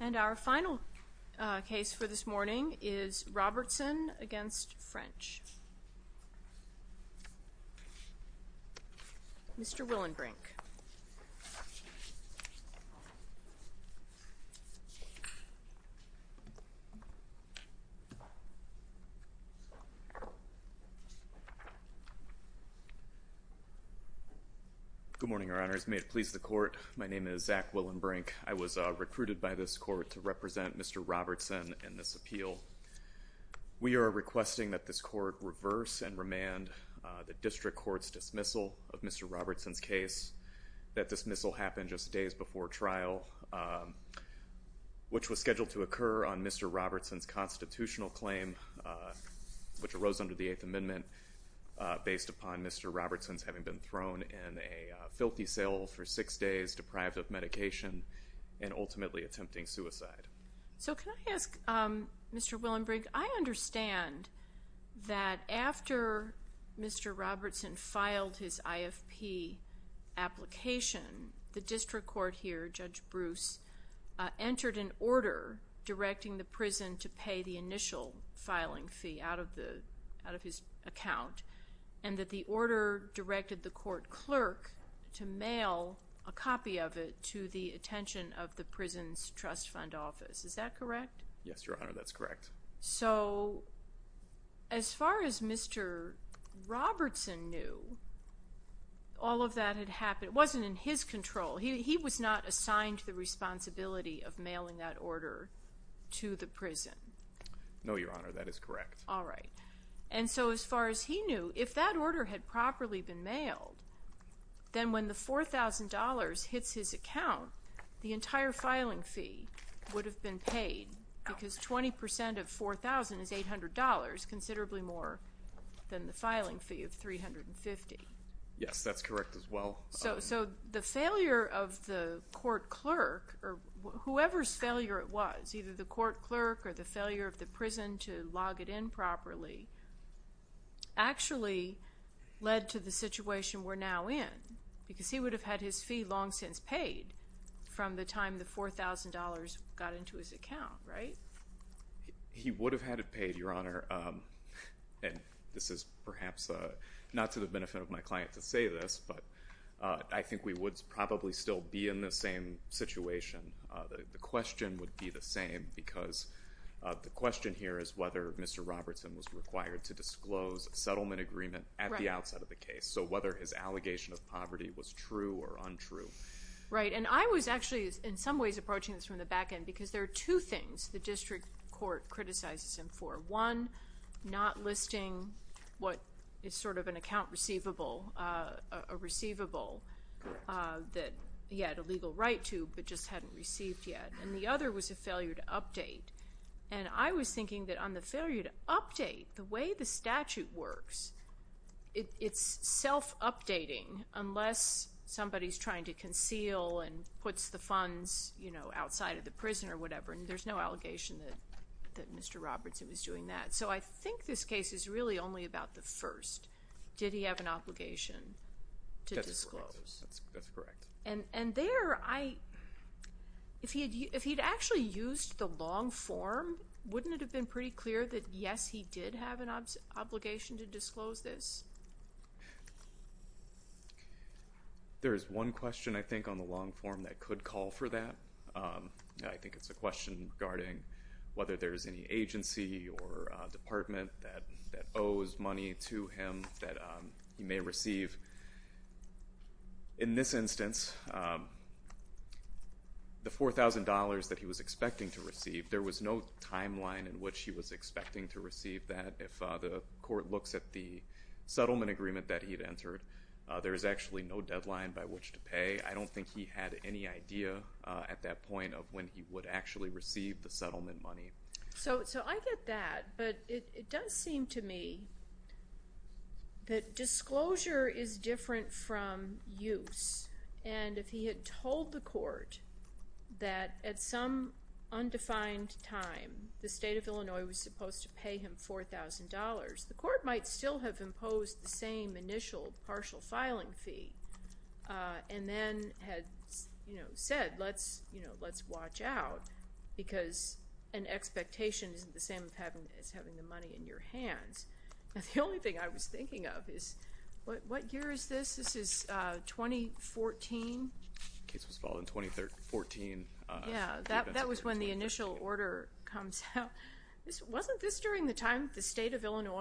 And our final case for this morning is Robertson v. French. Mr. Willenbrink. Good morning, Your Honors. May it please the court, my name is Zach Willenbrink. I was recruited by this court to represent Mr. Robertson in this appeal. We are requesting that this dismissal happen just days before trial, which was scheduled to occur on Mr. Robertson's constitutional claim, which arose under the Eighth Amendment, based upon Mr. Robertson's having been thrown in a filthy cell for six days, deprived of medication, and ultimately attempting suicide. So can I ask, Mr. Willenbrink, I understand that after Mr. Robertson filed his IFP application, the district court here, Judge Bruce, entered an order directing the prison to pay the initial filing fee out of his account, and that the order directed the court clerk to mail a copy of it to the attention of the prison's trust fund office. Is that correct? Yes, Your Honor, that's correct. So as far as Mr. Robertson knew, all of that had happened. It wasn't in his control. He was not assigned the responsibility of mailing that order to the prison. No, Your Honor, that is correct. And so as far as he knew, if that order had properly been mailed, then when the $4,000 hits his account, the entire filing fee would have been paid, because 20% of $4,000 is $800, considerably more than the filing fee of $350. Yes, that's correct as well. So the failure of the court clerk, or whoever's failure it was, either the court clerk or the failure of the prison to log it in properly, actually led to the situation we're now in, because he would have had his fee long since paid from the time the $4,000 got into his account, right? He would have had it paid, Your Honor, and this is perhaps not to the benefit of my client to say this, but I think we would probably still be in the same situation. The question would be the same, because the question here is whether Mr. Robertson was required to disclose a settlement agreement at the outside of the case, so whether his allegation of poverty was true or untrue. Right, and I was actually in some ways approaching this from the back end, because there are two things the district court criticizes him for. One, not listing what is sort of an account receivable, a receivable that he had a legal right to but just hadn't received yet, and the other was a failure to update, and I was thinking that on the failure to update, the way the statute works, it's self-updating unless somebody's the funds outside of the prison or whatever, and there's no allegation that Mr. Robertson was doing that, so I think this case is really only about the first. Did he have an obligation to disclose? That's correct. And there, if he'd actually used the long form, wouldn't it have been pretty clear that yes, he did have an obligation to disclose this? There is one question, I think, on the long form that could call for that. I think it's a question regarding whether there's any agency or department that owes money to him that he may receive. In this instance, the $4,000 that he was expecting to receive, there was no timeline in which he was expecting to receive that. If the court looks at the settlement agreement that he'd received, there's actually no deadline by which to pay. I don't think he had any idea at that point of when he would actually receive the settlement money. So I get that, but it does seem to me that disclosure is different from use, and if he had told the court that at some undefined time the state of Illinois was supposed to pay him $4,000, the court might still have imposed the same initial partial filing fee, and then had said, let's watch out, because an expectation isn't the same as having the money in your hands. The only thing I was thinking of is, what year is this? This is 2014? The case was filed in 2014. Yeah, that was when the initial order comes out. Wasn't this during the time the state was on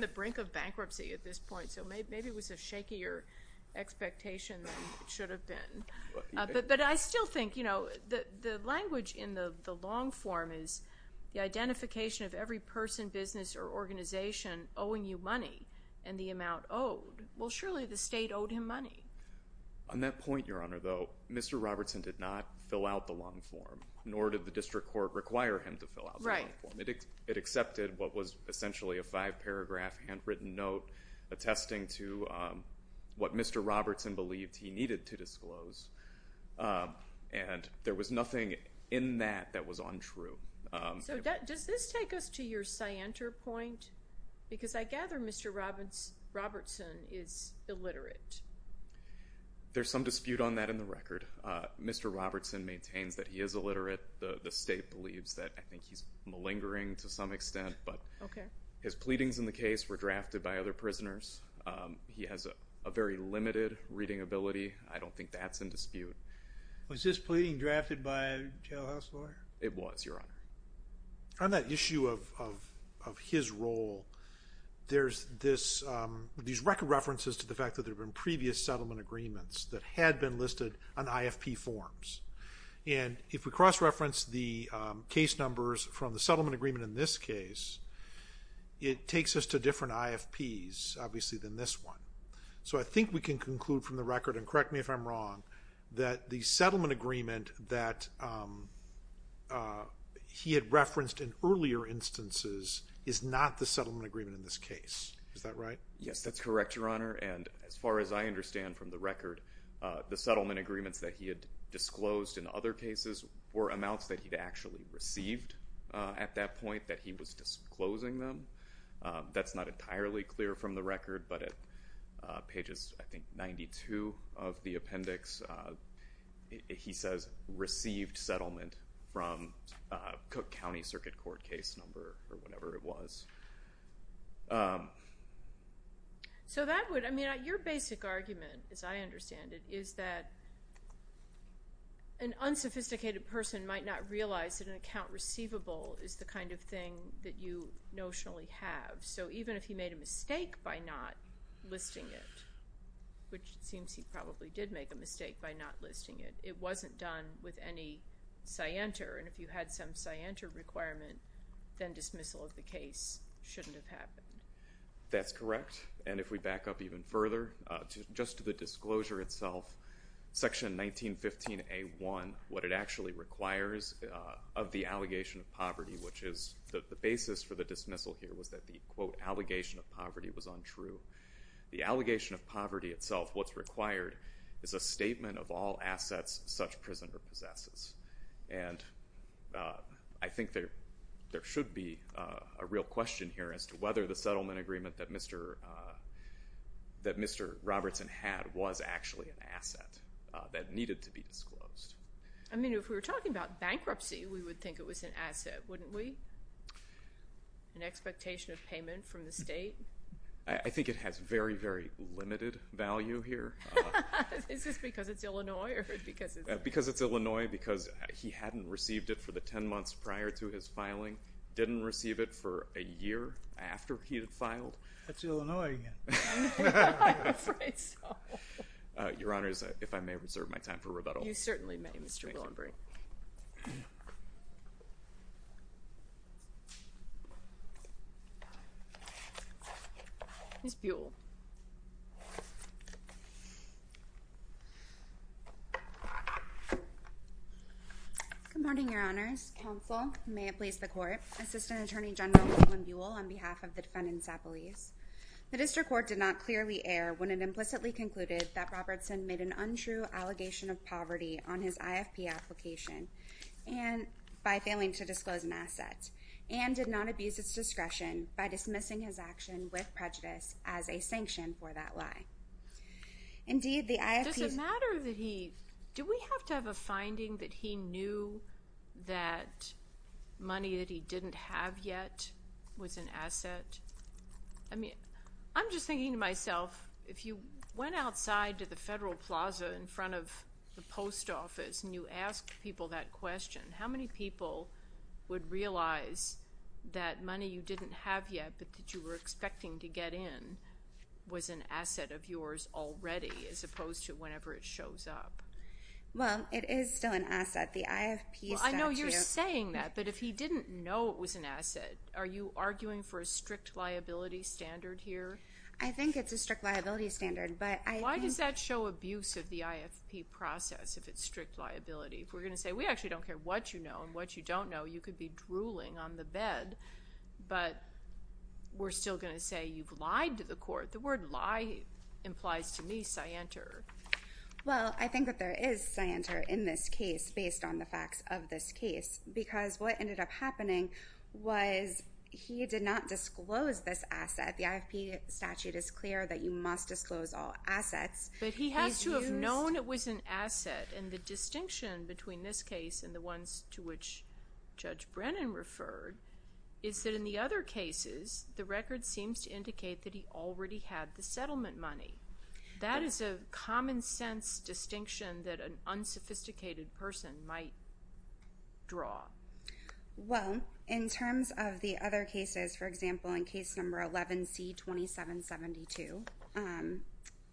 the brink of bankruptcy at this point, so maybe it was a shakier expectation than it should have been. But I still think, you know, the language in the long form is the identification of every person, business, or organization owing you money, and the amount owed. Well, surely the state owed him money. On that point, Your Honor, though, Mr. Robertson did not fill out the long form, nor did the district court require him to fill out the long form. It accepted what was essentially a five-paragraph handwritten note attesting to what Mr. Robertson believed he needed to disclose, and there was nothing in that that was untrue. So does this take us to your scienter point? Because I gather Mr. Robertson is illiterate. There's some dispute on that in the record. Mr. Robertson maintains that he is illiterate. The state believes that. I think he's malingering to some extent, but his pleadings in the case were drafted by other prisoners. He has a very limited reading ability. I don't think that's in dispute. Was this pleading drafted by a jailhouse lawyer? It was, Your Honor. On that issue of his role, there's these record references to the fact that there have been previous settlement agreements that had been listed on IFP forms, and if we cross-reference the case numbers from the settlement agreement in this case, it takes us to different IFPs, obviously, than this one. So I think we can conclude from the record, and correct me if I'm wrong, that the settlement agreement that he had referenced in earlier instances is not the settlement agreement in this case. Is that right? Yes, that's correct, Your Honor, and as far as I understand from the record, the settlement agreements that he had disclosed in other cases were amounts that he'd actually received at that point that he was disclosing them. That's not entirely clear from the record, but at pages, I think, 92 of the appendix, he says, received settlement from Cook County Circuit Court case number, or whatever it was. So that would, I mean, your basic argument, as I understand it, is that an unsophisticated person might not realize that an account receivable is the kind of thing that you notionally have. So even if he made a mistake by not listing it, which it seems he probably did make a mistake by not listing it, it wasn't done with any scienter, and if you had some scienter requirement, then dismissal of the case shouldn't have happened. That's correct, and if we back up even further, just to the disclosure itself, section 1915A1, what it actually requires of the allegation of poverty, which is the basis for the dismissal here, was that the, quote, allegation of poverty was untrue. The allegation of poverty itself, what's required, is a statement of all assets such prisoner possesses, and I think there should be a real question here as to whether the settlement agreement that Mr. Robertson had was actually an asset that needed to be disclosed. I mean, if we were talking about bankruptcy, we would think it was an asset, wouldn't we? An expectation of payment from the state? I think it has very, very limited value here. Is this because it's Illinois? Because it's Illinois, because he hadn't received it for the ten months prior to his filing, didn't receive it for a year after he had filed. That's Illinois again. I'm afraid so. Your Honor, if I may reserve my time for rebuttal. You certainly may, Mr. Willenbury. Ms. Buell. Good morning, Your Honors. Counsel, may it please the Court, Assistant Attorney General Colin Buell on behalf of the defendant, Sapolis. The District Court did not clearly err when it implicitly concluded that Robertson made an untrue allegation of poverty on his IFP application by failing to disclose an asset, and did not abuse its discretion by dismissing his action with prejudice as a sanction for that lie. Indeed, the IFP... Does it matter that he... Do we have to have a finding that he knew that money that he didn't have yet was an asset? I mean, I'm just thinking to myself, if you went outside to the Federal Plaza in front of the post office and you asked people that question, how many people would realize that money you didn't have yet, but that you were expecting to get in, was an asset of yours already, as opposed to whenever it shows up? Well, it is still an asset. The IFP statute... Well, I know you're saying that, but if he didn't know it was an asset, are you arguing for a strict liability standard here? I think it's a strict liability standard, but I think... Why does that show abuse of the IFP process if it's strict liability? If we're going to say, we actually don't care what you know and what you don't know, you could be drooling on the bed, but we're still going to say you've lied to the court. The word lie implies to me scienter. Well, I think that there is scienter in this case based on the facts of this case, because what ended up happening was he did not disclose this asset. The IFP statute is clear that you must disclose all assets. But he has to have known it was an asset, and the distinction between this case and the ones to which Judge Brennan referred is that in the other cases, the record seems to indicate that he already had the settlement money. That is a common sense distinction that an unsophisticated person might draw. Well, in terms of the other cases, for example, in case number 11C2772,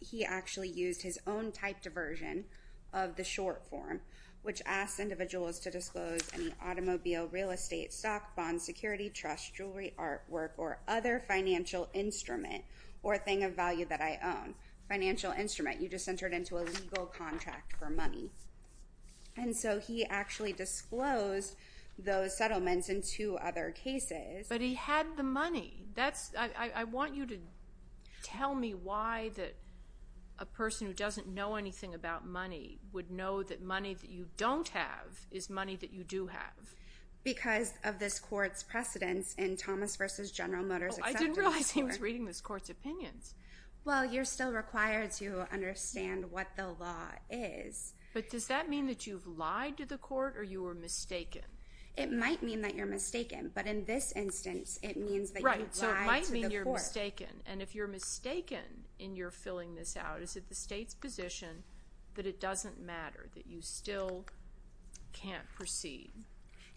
he actually used his own type diversion of the short form, which asks individuals to disclose any automobile, real estate, stock, bonds, security, trust, jewelry, artwork, or other financial instrument or thing of value that I own. Financial instrument, you just entered into a legal contract for those settlements in two other cases. But he had the money. I want you to tell me why that a person who doesn't know anything about money would know that money that you don't have is money that you do have. Because of this court's precedence in Thomas v. General Motors' acceptance court. I didn't realize he was reading this court's opinions. Well, you're still required to understand what the law is. But does that mean that you've lied to the court or you were mistaken? It might mean that you're mistaken. But in this instance, it means that you lied to the court. Right. So it might mean you're mistaken. And if you're mistaken in your filling this out, is it the state's position that it doesn't matter, that you still can't proceed?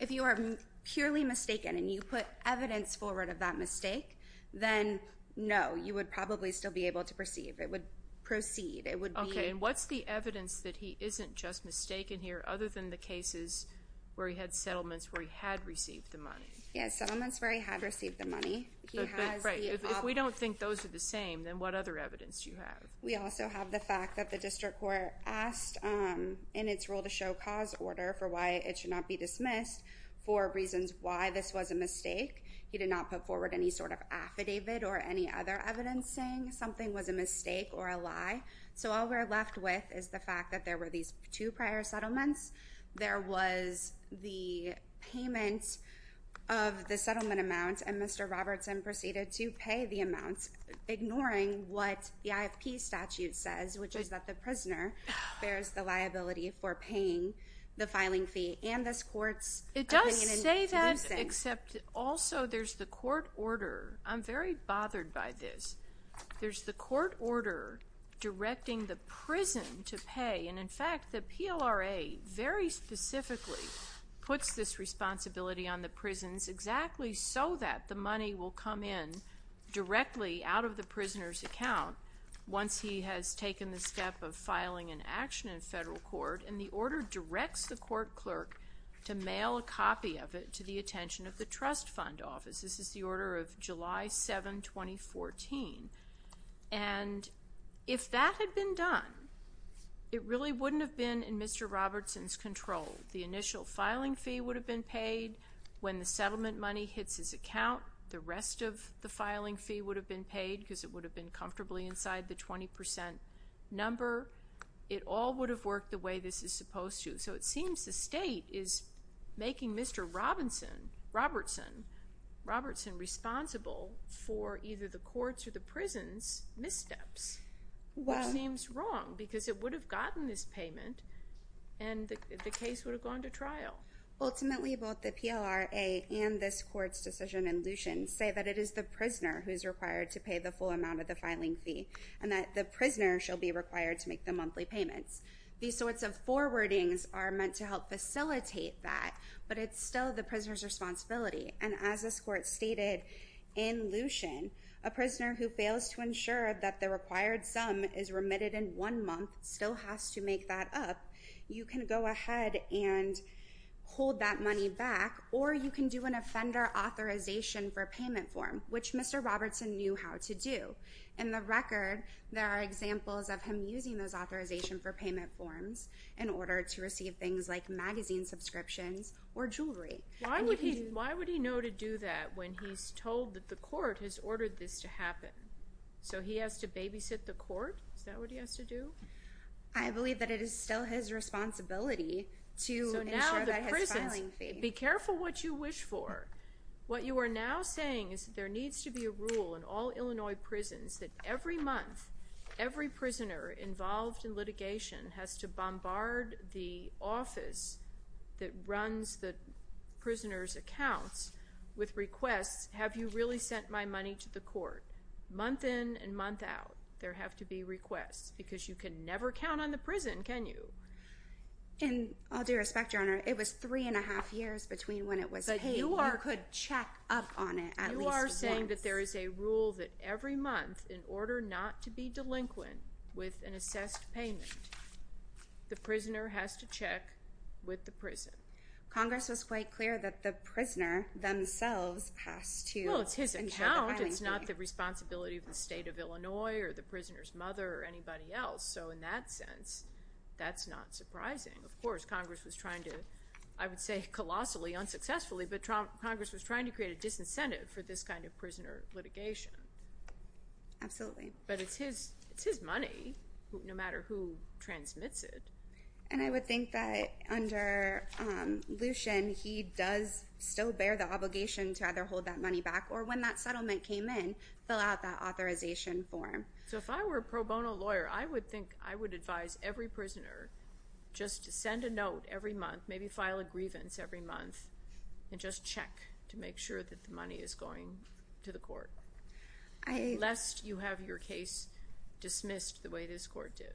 If you are purely mistaken and you put evidence forward of that mistake, then no, you would probably still be able to proceed. It would proceed. It would be... Okay. And what's the evidence that he isn't just mistaken here other than the cases where he had settlements where he had received the money? He has settlements where he had received the money. But if we don't think those are the same, then what other evidence do you have? We also have the fact that the district court asked in its rule to show cause order for why it should not be dismissed for reasons why this was a mistake. He did not put forward any sort of affidavit or any other evidence saying something was a mistake or a lie. So all we're left with is the fact that there were these two prior settlements. There was the payment of the settlement amount, and Mr. Robertson proceeded to pay the amount, ignoring what the IFP statute says, which is that the prisoner bears the liability for paying the filing fee and this court's opinion in this instance. It does say that, except also there's the court order. I'm very bothered by this. There's the court order directing the prison to pay. And, in fact, the PLRA very specifically puts this responsibility on the prisons exactly so that the money will come in directly out of the prisoner's account once he has taken the step of filing an action in federal court. And the order directs the court clerk to mail a copy of it to the attention of the trust fund office. This is the order of July 7, 2014. And if that had been done, it really wouldn't have been in Mr. Robertson's control. The initial filing fee would have been paid. When the settlement money hits his account, the rest of the filing fee would have been paid because it would have been comfortably inside the 20 percent number. It all would have worked the way this is supposed to. So it seems the state is making Mr. Robertson responsible for either the courts or the prisons' missteps, which seems wrong because it would have gotten this payment and the case would have gone to trial. Ultimately, both the PLRA and this court's decision in Lucien say that it is the prisoner who is required to pay the full amount of the filing fee and that the prisoner shall be required to make the monthly payments. These sorts of forwardings are meant to help facilitate that, but it's still the prisoner's responsibility. And as this court stated in Lucien, a prisoner who fails to ensure that the required sum is remitted in one month still has to make that up, you can go ahead and hold that money back or you can do an offender authorization for payment form, which Mr. Robertson knew how to do. In the record, there are examples of him using those authorization for payment forms in order to receive things like magazine subscriptions or jewelry. Why would he know to do that when he's told that the court has ordered this to happen? So he has to babysit the court? Is that what he has to do? I believe that it is still his responsibility to ensure that his filing fee— So now the prison—be careful what you wish for. What you are now saying is that there needs to be a rule in all Illinois prisons that every month, every prisoner involved in litigation has to bombard the office that runs the prisoner's accounts with requests, have you really sent my money to the court? Month in and month out, there have to be requests because you can never count on the prison, can you? And I'll do respect, Your Honor, it was three and a half years between when it was paid. But you are— You could check up on it at least once. You are saying that there is a rule that every month, in order not to be delinquent with an assessed payment, the prisoner has to check with the prison. Congress was quite clear that the prisoner themselves has to ensure the filing fee. Well, it's his account. It's not the responsibility of the state of Illinois or the prisoner's mother or anybody else. So in that sense, that's not surprising. Of course, Congress was trying to, I would say, colossally, unsuccessfully, but Congress was trying to create a disincentive for this kind of prisoner litigation. Absolutely. But it's his money, no matter who transmits it. And I would think that under Lucien, he does still bear the obligation to either hold that money back or when that settlement came in, fill out that authorization form. So if I were a pro bono lawyer, I would think I would advise every prisoner just to send a note every month, maybe file a grievance every month, and just check to make sure that the money is going to the court, lest you have your case dismissed the way this court did.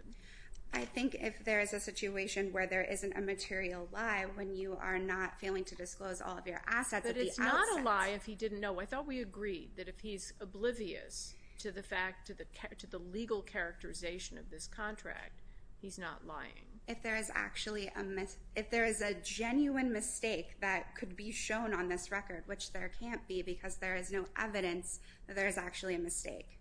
I think if there is a situation where there isn't a material lie, when you are not failing to disclose all of your assets at the outset. But it's not a lie if he didn't know. I thought we agreed that if he's oblivious to the legal characterization of this contract, he's not lying. If there is a genuine mistake that could be shown on this record, which there can't be because there is no evidence that there is actually a mistake.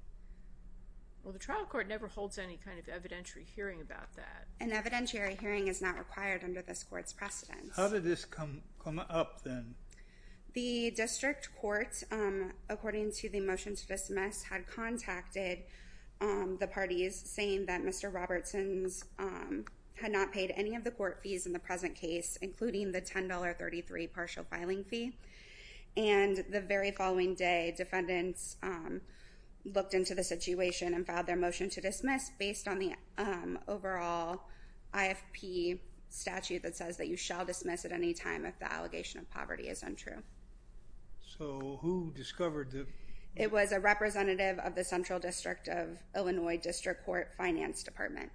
Well, the trial court never holds any kind of evidentiary hearing about that. An evidentiary hearing is not required under this court's precedent. How did this come up then? The district court, according to the motion to dismiss, had contacted the parties saying that Mr. Robertson had not paid any of the court fees in the present case, including the $10.33 partial filing fee. And the very following day, defendants looked into the situation and filed their motion to dismiss based on the overall IFP statute that says that you shall dismiss at any time if the allegation of poverty is untrue. So who discovered that? It was a representative of the Central District of Illinois District Court Finance Department.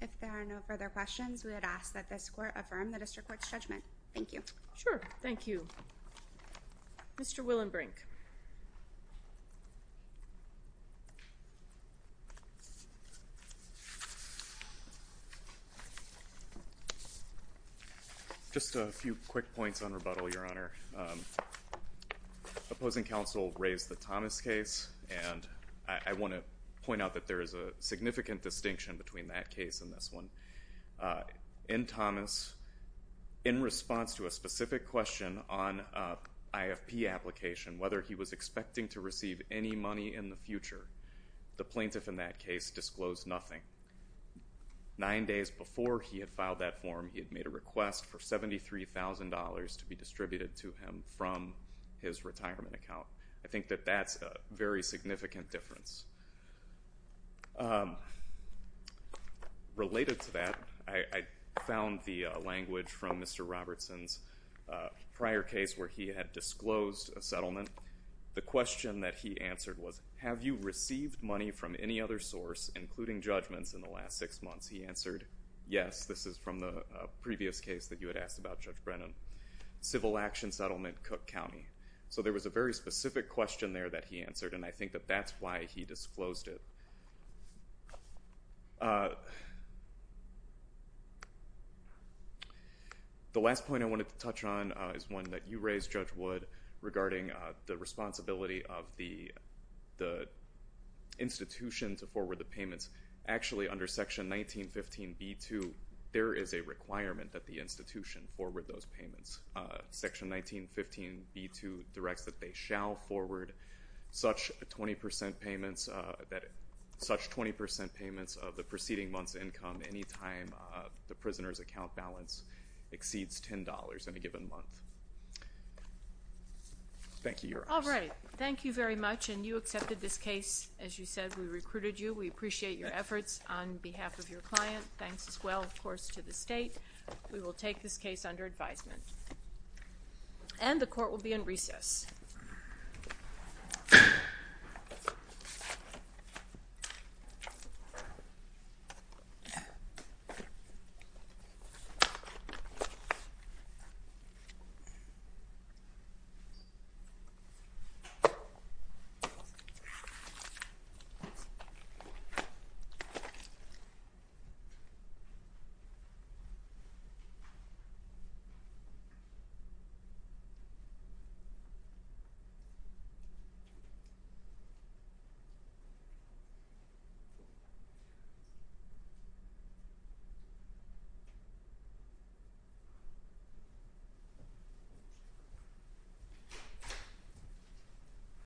If there are no further questions, we would ask that this court affirm the district court's judgment. Thank you. Sure. Thank you. Mr. Willenbrink. Just a few quick points on rebuttal, Your Honor. Opposing counsel raised the Thomas case, and I want to point out that there is a significant distinction between that case and this one. In Thomas, in response to a specific question on IFP application, whether he was expecting to receive any money in the future, the plaintiff in that case disclosed nothing. Nine days before he had filed that form, he had made a request for $73,000 to be distributed to him from his retirement account. I think that that's a very significant difference. Related to that, I found the language from Mr. Robertson's prior case where he had disclosed a settlement. The question that he answered was, have you received money from any other source, including judgments, in the last six months? He answered, yes. This is from the previous case that you had asked about, Judge Brennan. Civil action settlement, Cook County. So there was a very specific question there that he answered, and I think that that's why he disclosed it. The last point I wanted to touch on is one that you raised, Judge Wood, regarding the responsibility of the institution to forward the payments. Actually, under Section 1915b2, there is a requirement that the institution forward those payments. Section 1915b2 directs that they shall forward such 20% payments of the preceding month's income any time the prisoner's account balance exceeds $10 in a given month. Thank you, Your Honor. All right. Thank you very much, and you accepted this case. As you said, we recruited you. We appreciate your efforts on behalf of your client. Thanks as well, of course, to the State. We will take this case under advisement, and the court will be in recess. Thank you.